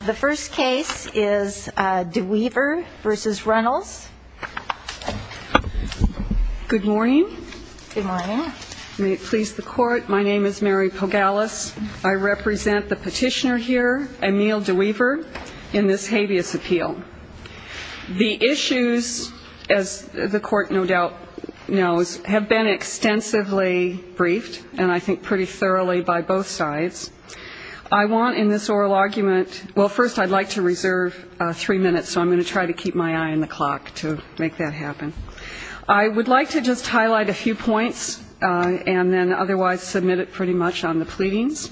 The first case is DeWeaver v. Runnels. Good morning. Good morning. May it please the court. My name is Mary Pogalas. I represent the petitioner here, Emil DeWeaver, in this habeas appeal. The issues, as the court no doubt knows, have been extensively briefed, and I think pretty thoroughly by both sides. I want in this oral argument, well, first I'd like to reserve three minutes, so I'm going to try to keep my eye on the clock to make that happen. I would like to just highlight a few points and then otherwise submit it pretty much on the pleadings.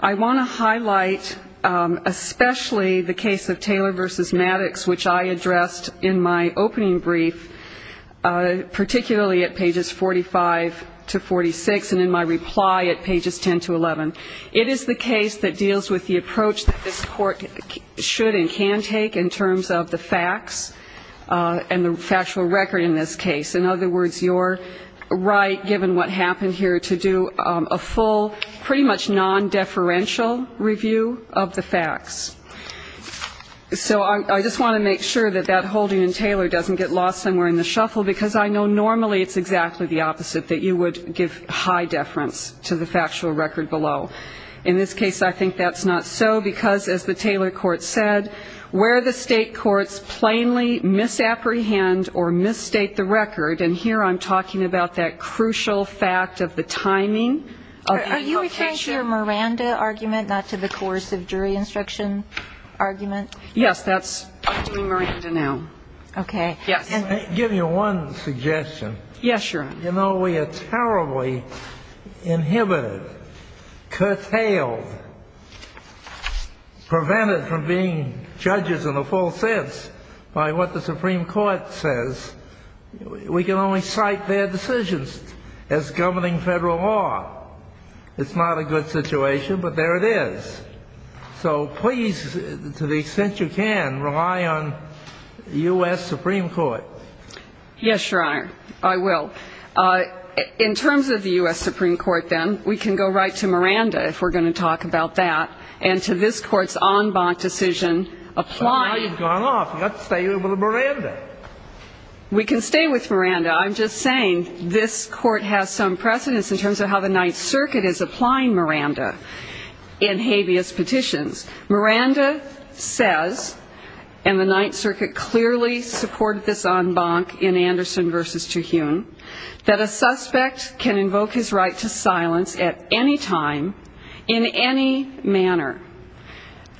I want to highlight especially the case of Taylor v. Maddox, which I addressed in my opening brief, particularly at pages 45 to 46 and in my reply at pages 10 to 11. It is the case that deals with the approach that this court should and can take in terms of the facts and the factual record in this case. In other words, you're right, given what happened here, to do a full pretty much non-deferential review of the facts. So I just want to make sure that that holding in Taylor doesn't get lost somewhere in the shuffle because I know normally it's exactly the opposite, that you would give high deference to the factual record below. In this case, I think that's not so because, as the Taylor court said, where the state courts plainly misapprehend or misstate the record, and here I'm talking about that crucial fact of the timing. Are you referring to your Miranda argument, not to the coercive jury instruction argument? Yes, that's Miranda now. Okay. Yes. Let me give you one suggestion. Yes, Your Honor. You know, we are terribly inhibited, curtailed, prevented from being judges in the full sense by what the Supreme Court says. We can only cite their decisions as governing federal law. It's not a good situation, but there it is. So please, to the extent you can, rely on the U.S. Supreme Court. Yes, Your Honor. I will. In terms of the U.S. Supreme Court, then, we can go right to Miranda, if we're going to talk about that, and to this Court's en banc decision applying. But now you've gone off. You've got to stay with Miranda. We can stay with Miranda. I'm just saying this Court has some precedence in terms of how the Ninth Circuit is applying Miranda in habeas petitions. Miranda says, and the Ninth Circuit clearly supported this en banc in Anderson v. Tuhune, that a suspect can invoke his right to silence at any time in any manner.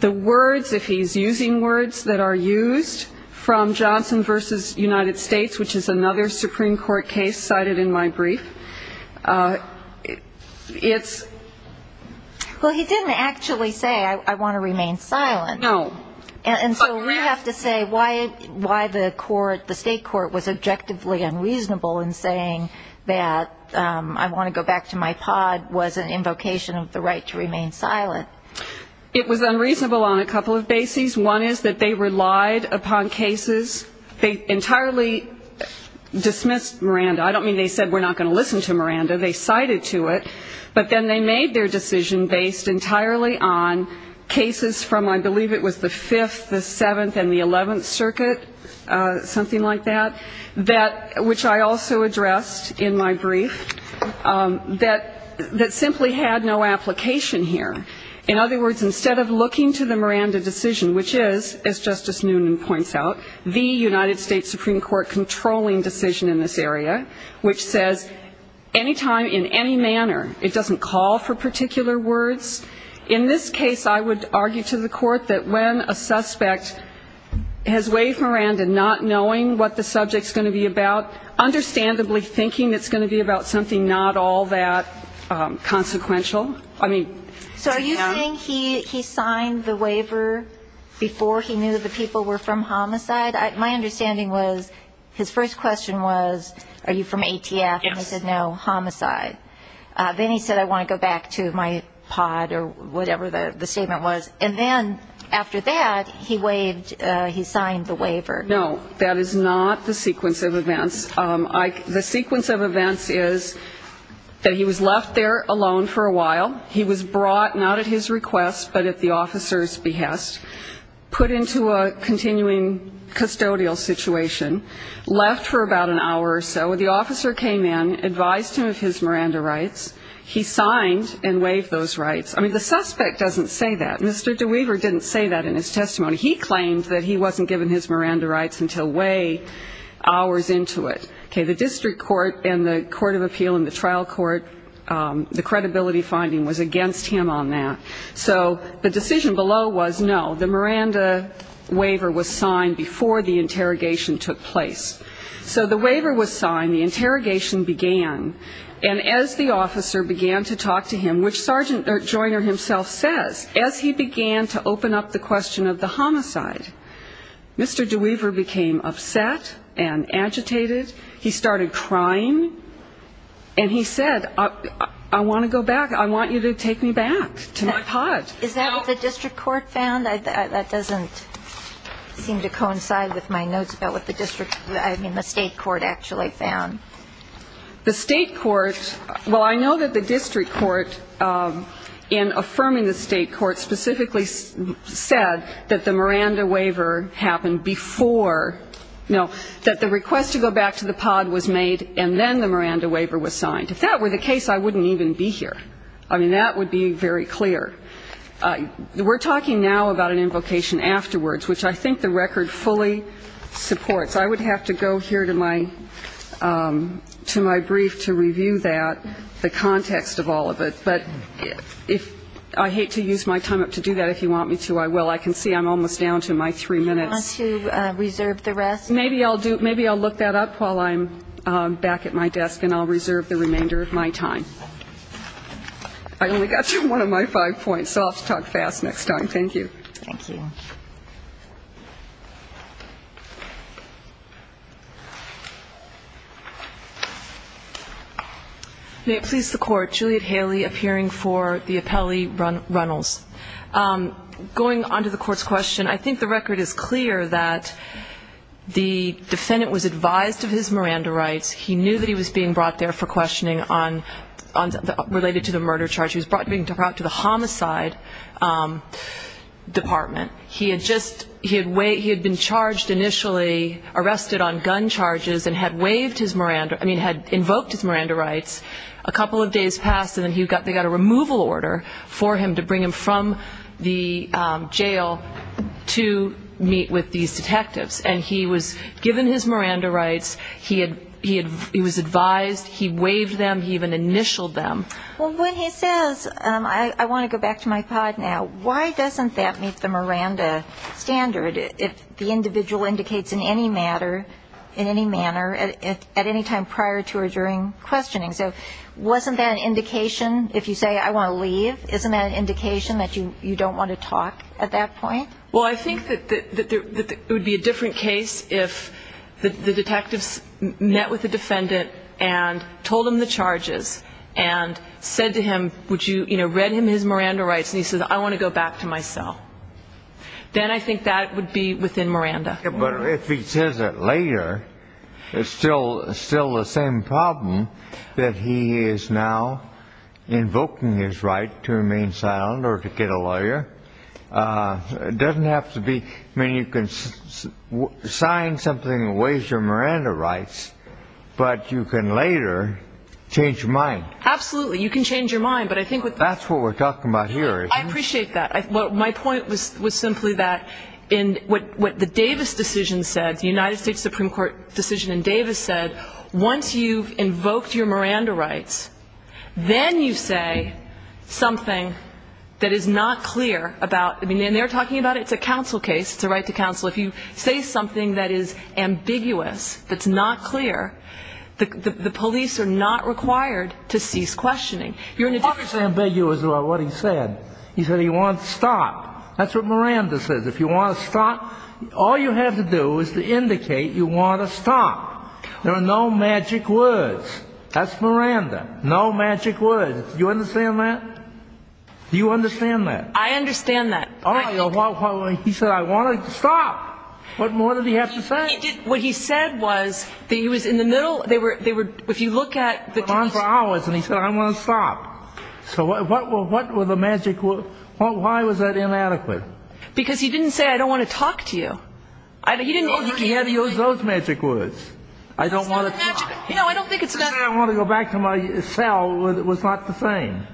The words, if he's using words that are used from Johnson v. United States, which is another Supreme Court case cited in my brief, it's – No. And so we have to say why the court, the state court, was objectively unreasonable in saying that I want to go back to my pod was an invocation of the right to remain silent. It was unreasonable on a couple of bases. One is that they relied upon cases. They entirely dismissed Miranda. I don't mean they said we're not going to listen to Miranda. They cited to it. But then they made their decision based entirely on cases from I believe it was the Fifth, the Seventh, and the Eleventh Circuit, something like that, which I also addressed in my brief, that simply had no application here. In other words, instead of looking to the Miranda decision, which is, as Justice Noonan points out, the United States Supreme Court controlling decision in this area, which says any time, in any manner, it doesn't call for particular words. In this case, I would argue to the court that when a suspect has waived Miranda, not knowing what the subject's going to be about, understandably thinking it's going to be about something not all that consequential. I mean, to him. So are you saying he signed the waiver before he knew that the people were from homicide? My understanding was his first question was, are you from ATF? And he said, no, homicide. Then he said, I want to go back to my pod or whatever the statement was. And then after that, he waived, he signed the waiver. No, that is not the sequence of events. The sequence of events is that he was left there alone for a while. He was brought not at his request but at the officer's behest, put into a continuing custodial situation, left for about an hour or so. The officer came in, advised him of his Miranda rights. He signed and waived those rights. I mean, the suspect doesn't say that. Mr. DeWeaver didn't say that in his testimony. He claimed that he wasn't given his Miranda rights until way hours into it. Okay. The district court and the court of appeal and the trial court, the credibility finding was against him on that. So the decision below was no, the Miranda waiver was signed before the interrogation took place. So the waiver was signed, the interrogation began, and as the officer began to talk to him, which Sergeant Joyner himself says, as he began to open up the question of the homicide, Mr. DeWeaver became upset and agitated. He started crying. And he said, I want to go back. I want you to take me back to my pod. Is that what the district court found? That doesn't seem to coincide with my notes about what the district, I mean the state court actually found. The state court, well, I know that the district court, in affirming the state court, specifically said that the Miranda waiver happened before, that the request to go back to the pod was made and then the Miranda waiver was signed. If that were the case, I wouldn't even be here. I mean, that would be very clear. We're talking now about an invocation afterwards, which I think the record fully supports. I would have to go here to my brief to review that, the context of all of it. But I hate to use my time up to do that. If you want me to, I will. I can see I'm almost down to my three minutes. Do you want to reserve the rest? Maybe I'll look that up while I'm back at my desk and I'll reserve the remainder of my time. I only got through one of my five points, so I'll have to talk fast next time. Thank you. Thank you. May it please the Court, Juliet Haley appearing for the appellee, Runnels. Going on to the Court's question, I think the record is clear that the defendant was advised of his Miranda rights. He knew that he was being brought there for questioning related to the murder charge. He was being brought to the homicide department. He had been charged initially, arrested on gun charges and had waived his Miranda rights, I mean, had invoked his Miranda rights. A couple of days passed and then they got a removal order for him to bring him from the jail to meet with these detectives. And he was given his Miranda rights. He was advised. He waived them. He even initialed them. Well, when he says, I want to go back to my pod now, why doesn't that meet the Miranda standard if the individual indicates in any manner at any time prior to or during questioning? So wasn't that an indication if you say, I want to leave? Isn't that an indication that you don't want to talk at that point? Well, I think that it would be a different case if the detectives met with the defendant and told him the charges and said to him, you know, read him his Miranda rights, and he says, I want to go back to my cell. Then I think that would be within Miranda. But if he says it later, it's still the same problem that he is now invoking his right to remain silent or to get a lawyer. It doesn't have to be. I mean, you can sign something and waive your Miranda rights, but you can later change your mind. Absolutely. You can change your mind. That's what we're talking about here. I appreciate that. My point was simply that in what the Davis decision said, the United States Supreme Court decision in Davis said, once you've invoked your Miranda rights, then you say something that is not clear about ñ and they're talking about it's a counsel case, it's a right to counsel. If you say something that is ambiguous, that's not clear, the police are not required to cease questioning. What was ambiguous about what he said? He said he wanted to stop. That's what Miranda says. If you want to stop, all you have to do is to indicate you want to stop. There are no magic words. That's Miranda. No magic words. Do you understand that? Do you understand that? I understand that. He said, I want to stop. What more did he have to say? What he said was that he was in the middle. He went on for hours, and he said, I want to stop. So what were the magic words? Why was that inadequate? Because he didn't say, I don't want to talk to you. He didn't have to use those magic words. I don't want to talk. I don't think it's ñ I want to go back to my cell was not the same.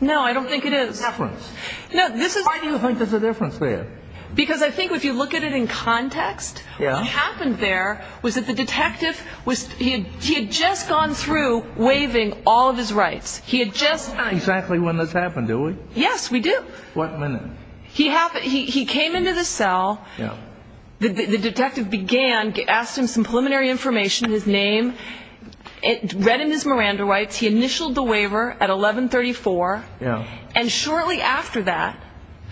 No, I don't think it is. Why do you think there's a difference there? Because I think if you look at it in context, what happened there was that the detective was ñ he had just gone through waiving all of his rights. He had just ñ Exactly when this happened, do we? Yes, we do. What minute? He came into the cell. The detective began, asked him some preliminary information, his name. Read him his Miranda rights. He initialed the waiver at 1134. And shortly after that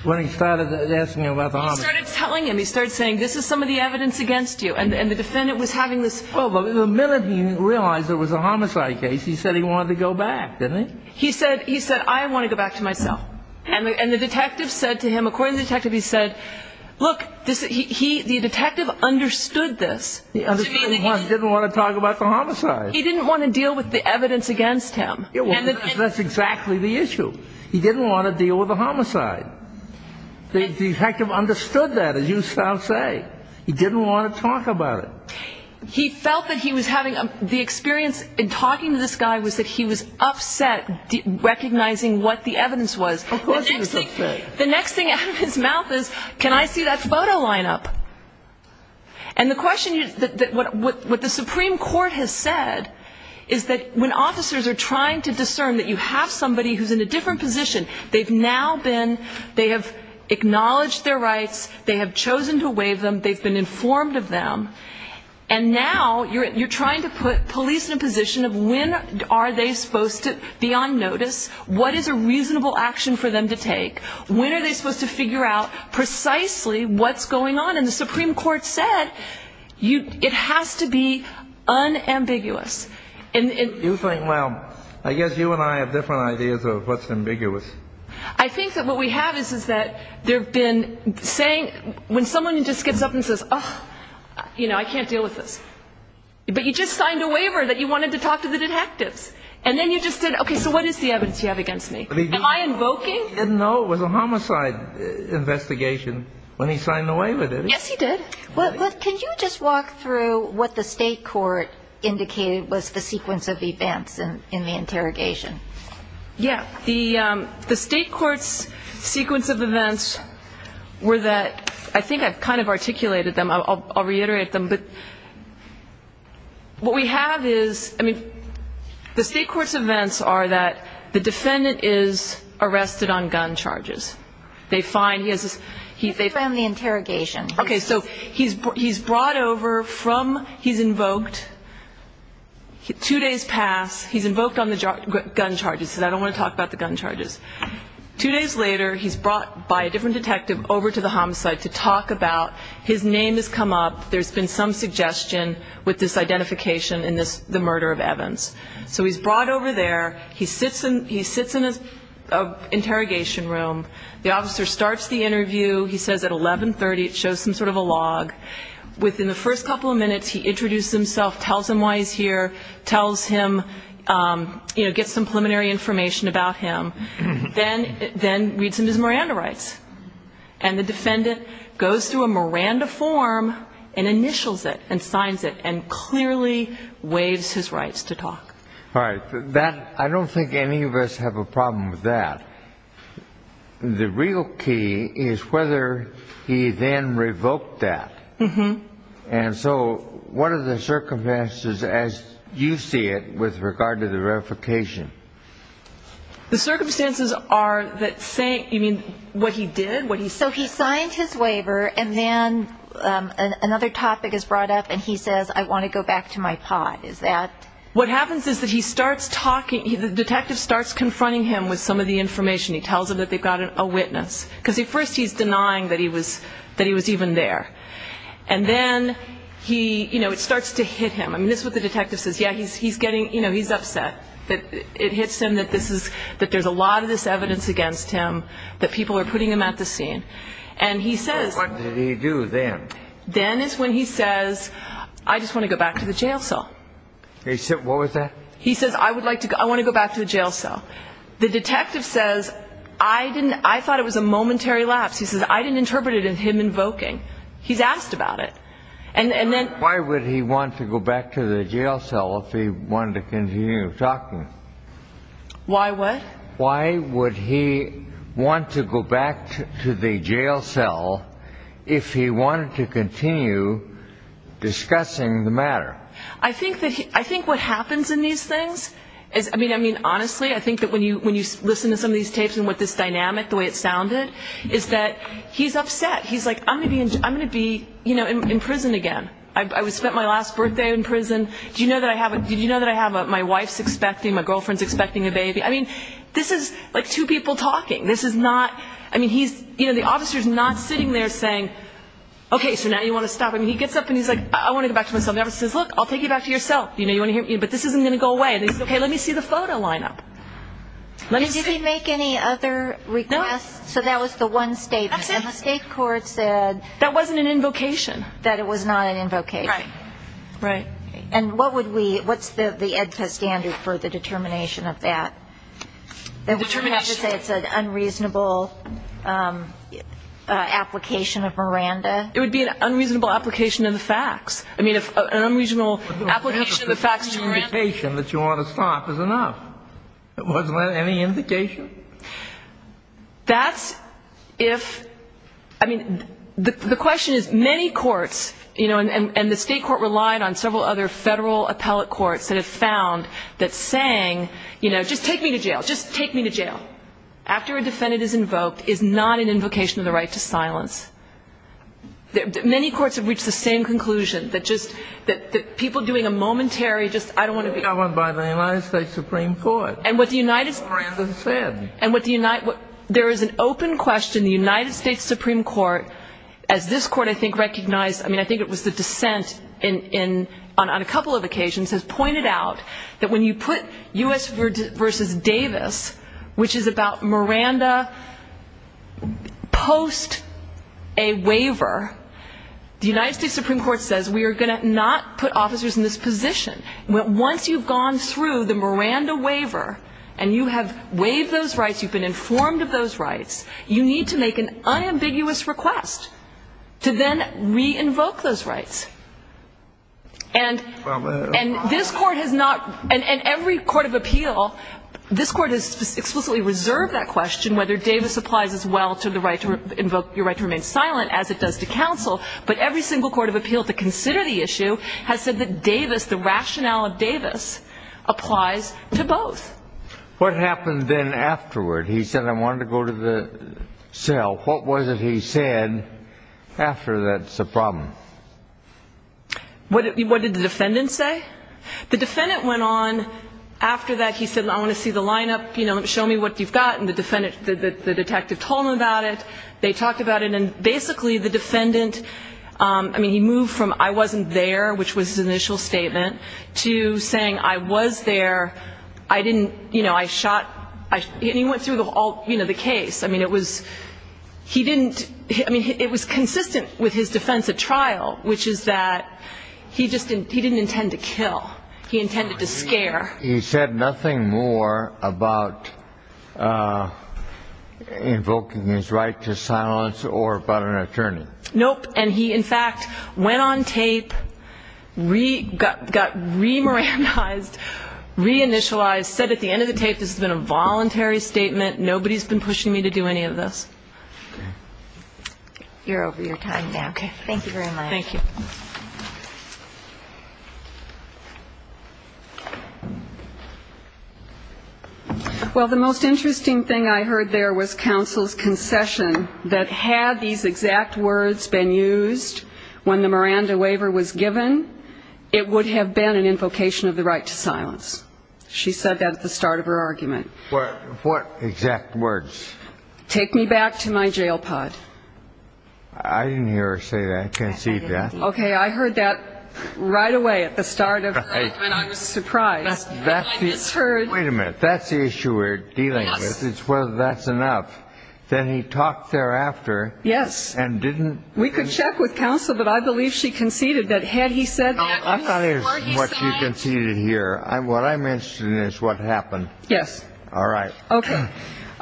ñ When he started asking him about the homage. He started telling him. He started saying, this is some of the evidence against you. And the defendant was having this ñ Well, the minute he realized it was a homicide case, he said he wanted to go back, didn't he? He said, I want to go back to my cell. And the detective said to him, according to the detective, he said, look, the detective understood this. He understood he didn't want to talk about the homicide. He didn't want to deal with the evidence against him. That's exactly the issue. He didn't want to deal with the homicide. The detective understood that, as you shall say. He didn't want to talk about it. He felt that he was having ñ the experience in talking to this guy was that he was upset, recognizing what the evidence was. Of course he was upset. The next thing out of his mouth is, can I see that photo lineup? And the question is, what the Supreme Court has said is that when officers are trying to discern that you have somebody who's in a different position, they've now been ñ they have acknowledged their rights, they have chosen to waive them, they've been informed of them, and now you're trying to put police in a position of when are they supposed to be on notice, what is a reasonable action for them to take, when are they supposed to figure out precisely what's going on. And the Supreme Court said it has to be unambiguous. You think, well, I guess you and I have different ideas of what's ambiguous. I think that what we have is that there have been saying ñ when someone just gets up and says, oh, you know, I can't deal with this. But you just signed a waiver that you wanted to talk to the detectives. And then you just said, okay, so what is the evidence you have against me? Am I invoking? He didn't know it was a homicide investigation when he signed the waiver, did he? Yes, he did. Well, can you just walk through what the state court indicated was the sequence of events in the interrogation? Yeah. The state court's sequence of events were that ñ I think I've kind of articulated them. I'll reiterate them. But what we have is ñ I mean, the state court's events are that the defendant is arrested on gun charges. They find ñ he has this ñ He found the interrogation. Okay. So he's brought over from ñ he's invoked. Two days pass. He's invoked on the gun charges. He said, I don't want to talk about the gun charges. Two days later, he's brought by a different detective over to the homicide to talk about ñ his name has come up. There's been some suggestion with this identification in the murder of Evans. So he's brought over there. He sits in an interrogation room. The officer starts the interview. He says at 11.30 it shows some sort of a log. Within the first couple of minutes, he introduces himself, tells him why he's here, tells him, you know, gets some preliminary information about him, then reads him his Miranda rights. And the defendant goes through a Miranda form and initials it and signs it and clearly waives his rights to talk. All right. That ñ I don't think any of us have a problem with that. But the real key is whether he then revoked that. And so what are the circumstances as you see it with regard to the verification? The circumstances are that saying ñ you mean what he did, what he said? So he signed his waiver and then another topic is brought up and he says, I want to go back to my pod. Is that ñ What happens is that he starts talking ñ the detective starts confronting him with some of the information. He tells him that they've got a witness because at first he's denying that he was even there. And then he ñ you know, it starts to hit him. I mean, this is what the detective says. Yeah, he's getting ñ you know, he's upset that it hits him that this is ñ that there's a lot of this evidence against him, that people are putting him at the scene. And he says ñ What did he do then? Then is when he says, I just want to go back to the jail cell. He said ñ what was that? He says, I would like to ñ I want to go back to the jail cell. The detective says, I didn't ñ I thought it was a momentary lapse. He says, I didn't interpret it as him invoking. He's asked about it. And then ñ Why would he want to go back to the jail cell if he wanted to continue talking? Why what? Why would he want to go back to the jail cell if he wanted to continue discussing the matter? I think that he ñ I think what happens in these things is ñ I mean, honestly, I think that when you listen to some of these tapes and what this dynamic, the way it sounded, is that he's upset. He's like, I'm going to be ñ I'm going to be in prison again. I spent my last birthday in prison. Do you know that I have a ñ do you know that I have a ñ my wife's expecting, my girlfriend's expecting a baby. I mean, this is like two people talking. This is not ñ I mean, he's ñ you know, the officer's not sitting there saying, okay, so now you want to stop. I mean, he gets up and he's like, I want to go back to my cell. And the officer says, look, I'll take you back to your cell. You know, you want to hear ñ but this isn't going to go away. And he says, okay, let me see the photo lineup. Let me see. Did he make any other requests? No. So that was the one statement. That's it. And the state court said ñ That wasn't an invocation. That it was not an invocation. Right. And what would we ñ what's the EDPA standard for the determination of that? Determination. Would you say it's an unreasonable application of Miranda? It would be an unreasonable application of the facts. I mean, an unreasonable application of the facts to Miranda. The indication that you want to stop is enough. It wasn't any indication. That's if ñ I mean, the question is many courts, you know, and the state court relied on several other Federal appellate courts that have found that saying, you know, just take me to jail, just take me to jail after a defendant is invoked is not an invocation of the right to silence. Many courts have reached the same conclusion, that just ñ that people doing a momentary just ñ I don't want to be ñ Governed by the United States Supreme Court. And what the United ñ Miranda said. And what the ñ there is an open question. The United States Supreme Court, as this court, I think, recognized ñ I mean, I think it was the dissent on a couple of occasions has pointed out that when you put U.S. Davis, which is about Miranda post a waiver, the United States Supreme Court says, we are going to not put officers in this position. Once you've gone through the Miranda waiver and you have waived those rights, you've been informed of those rights, you need to make an unambiguous request to then re-invoke those rights. And this court has not ñ and every court of appeal, this court has explicitly reserved that question, whether Davis applies as well to the right to ñ invoke your right to remain silent, as it does to counsel. But every single court of appeal to consider the issue has said that Davis, the rationale of Davis, applies to both. What happened then afterward? He said, I wanted to go to the cell. What was it he said after that's a problem? What did the defendant say? The defendant went on. After that, he said, I want to see the lineup, you know, show me what you've got. And the defendant ñ the detective told him about it. They talked about it. And basically, the defendant ñ I mean, he moved from I wasn't there, which was his initial statement, to saying I was there. I didn't ñ you know, I shot ñ and he went through the whole ñ you know, the case. I mean, it was ñ he didn't ñ I mean, it was consistent with his defense at trial, which is that he just didn't ñ he didn't intend to kill. He intended to scare. He said nothing more about invoking his right to silence or about an attorney. Nope. And he, in fact, went on tape, got re-Moranized, re-initialized, said at the end of the tape, this has been a voluntary statement, nobody's been pushing me to do any of this. Okay. You're over your time now. Okay. Thank you very much. Thank you. Well, the most interesting thing I heard there was counsel's concession that had these exact words been used when the Miranda waiver was given, it would have been an invocation of the right to silence. She said that at the start of her argument. What exact words? Take me back to my jail pod. I didn't hear her say that, concede that. Okay. I heard that right away at the start of her argument. I was surprised. Wait a minute. That's the issue we're dealing with is whether that's enough. Then he talked thereafter. Yes. And didn't ñ We could check with counsel, but I believe she conceded that had he said that ñ I'm not interested in what you conceded here. What I'm interested in is what happened. Yes. All right. Okay.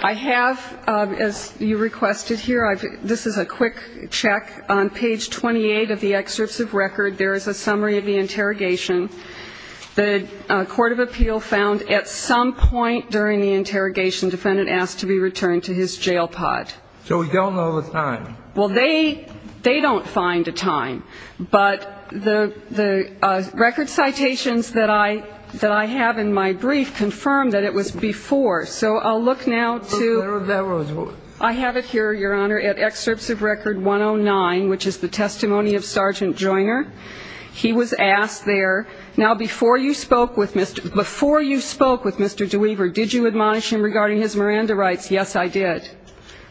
I have, as you requested here, this is a quick check. On page 28 of the excerpts of record, there is a summary of the interrogation. The court of appeal found at some point during the interrogation, defendant asked to be returned to his jail pod. So we don't know the time. Well, they don't find a time. But the record citations that I have in my brief confirm that it was before. So I'll look now to ñ I have it here, Your Honor, at excerpts of record 109, which is the testimony of Sergeant Joyner. He was asked there, now, before you spoke with Mr. DeWeaver, did you admonish him regarding his Miranda rights? Yes, I did.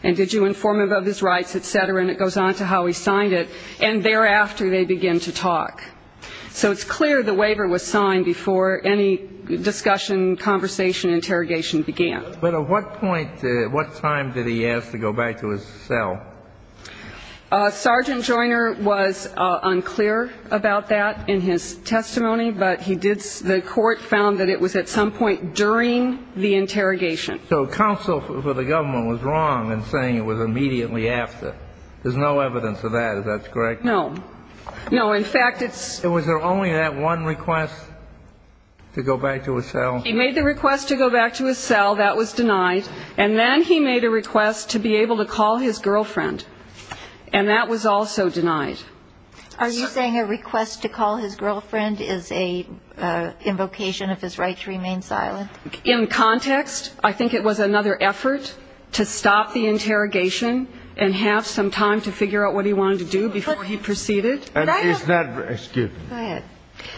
And did you inform him of his rights, et cetera? And it goes on to how he signed it. And thereafter, they begin to talk. So it's clear the waiver was signed before any discussion, conversation, interrogation began. But at what point, at what time did he ask to go back to his cell? Sergeant Joyner was unclear about that in his testimony, but he did ñ the court found that it was at some point during the interrogation. So counsel for the government was wrong in saying it was immediately after. There's no evidence of that. Is that correct? No. No. In fact, it's ñ Was there only that one request to go back to his cell? He made the request to go back to his cell. That was denied. And then he made a request to be able to call his girlfriend, and that was also denied. Are you saying a request to call his girlfriend is an invocation of his right to remain silent? In context, I think it was another effort to stop the interrogation and have some time to figure out what he wanted to do before he proceeded. And isn't that ñ excuse me. Go ahead.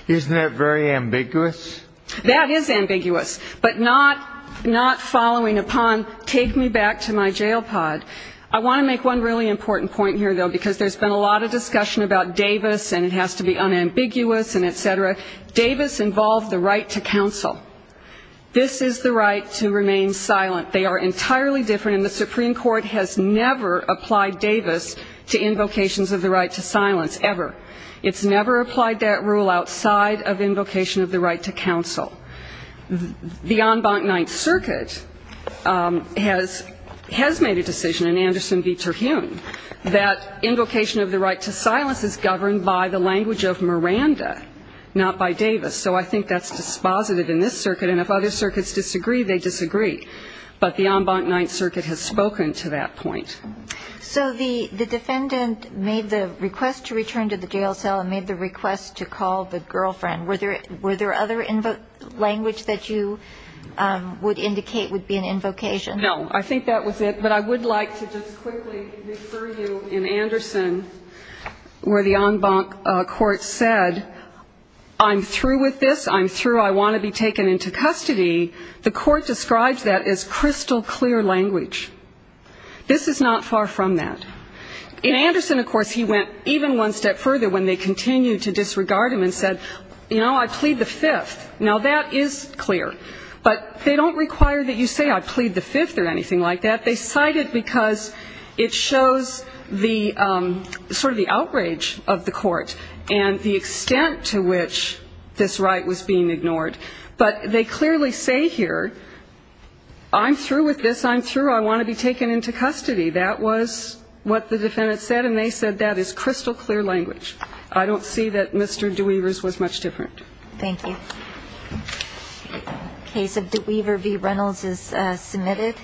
Isn't that very ambiguous? That is ambiguous, but not following upon take me back to my jail pod. I want to make one really important point here, though, because there's been a lot of discussion about Davis and it has to be unambiguous and et cetera. Davis involved the right to counsel. This is the right to remain silent. They are entirely different, and the Supreme Court has never applied Davis to invocations of the right to silence, ever. It's never applied that rule outside of invocation of the right to counsel. The en banc ninth circuit has made a decision in Anderson v. Terhune that invocation of the right to silence is governed by the language of Miranda, not by Davis. So I think that's dispositive in this circuit. And if other circuits disagree, they disagree. But the en banc ninth circuit has spoken to that point. So the defendant made the request to return to the jail cell and made the request to call the girlfriend. Were there other language that you would indicate would be an invocation? No. I think that was it. But I would like to just quickly refer you in Anderson where the en banc court said, I'm through with this, I'm through, I want to be taken into custody. The court describes that as crystal clear language. This is not far from that. In Anderson, of course, he went even one step further when they continued to disregard him and said, you know, I plead the fifth. Now, that is clear. But they don't require that you say I plead the fifth or anything like that. They cite it because it shows the sort of the outrage of the court and the extent to which this right was being ignored. But they clearly say here, I'm through with this, I'm through, I want to be taken into custody. That was what the defendant said. And they said that is crystal clear language. I don't see that Mr. DeWevers was much different. Thank you. The case of DeWevers v. Reynolds is submitted.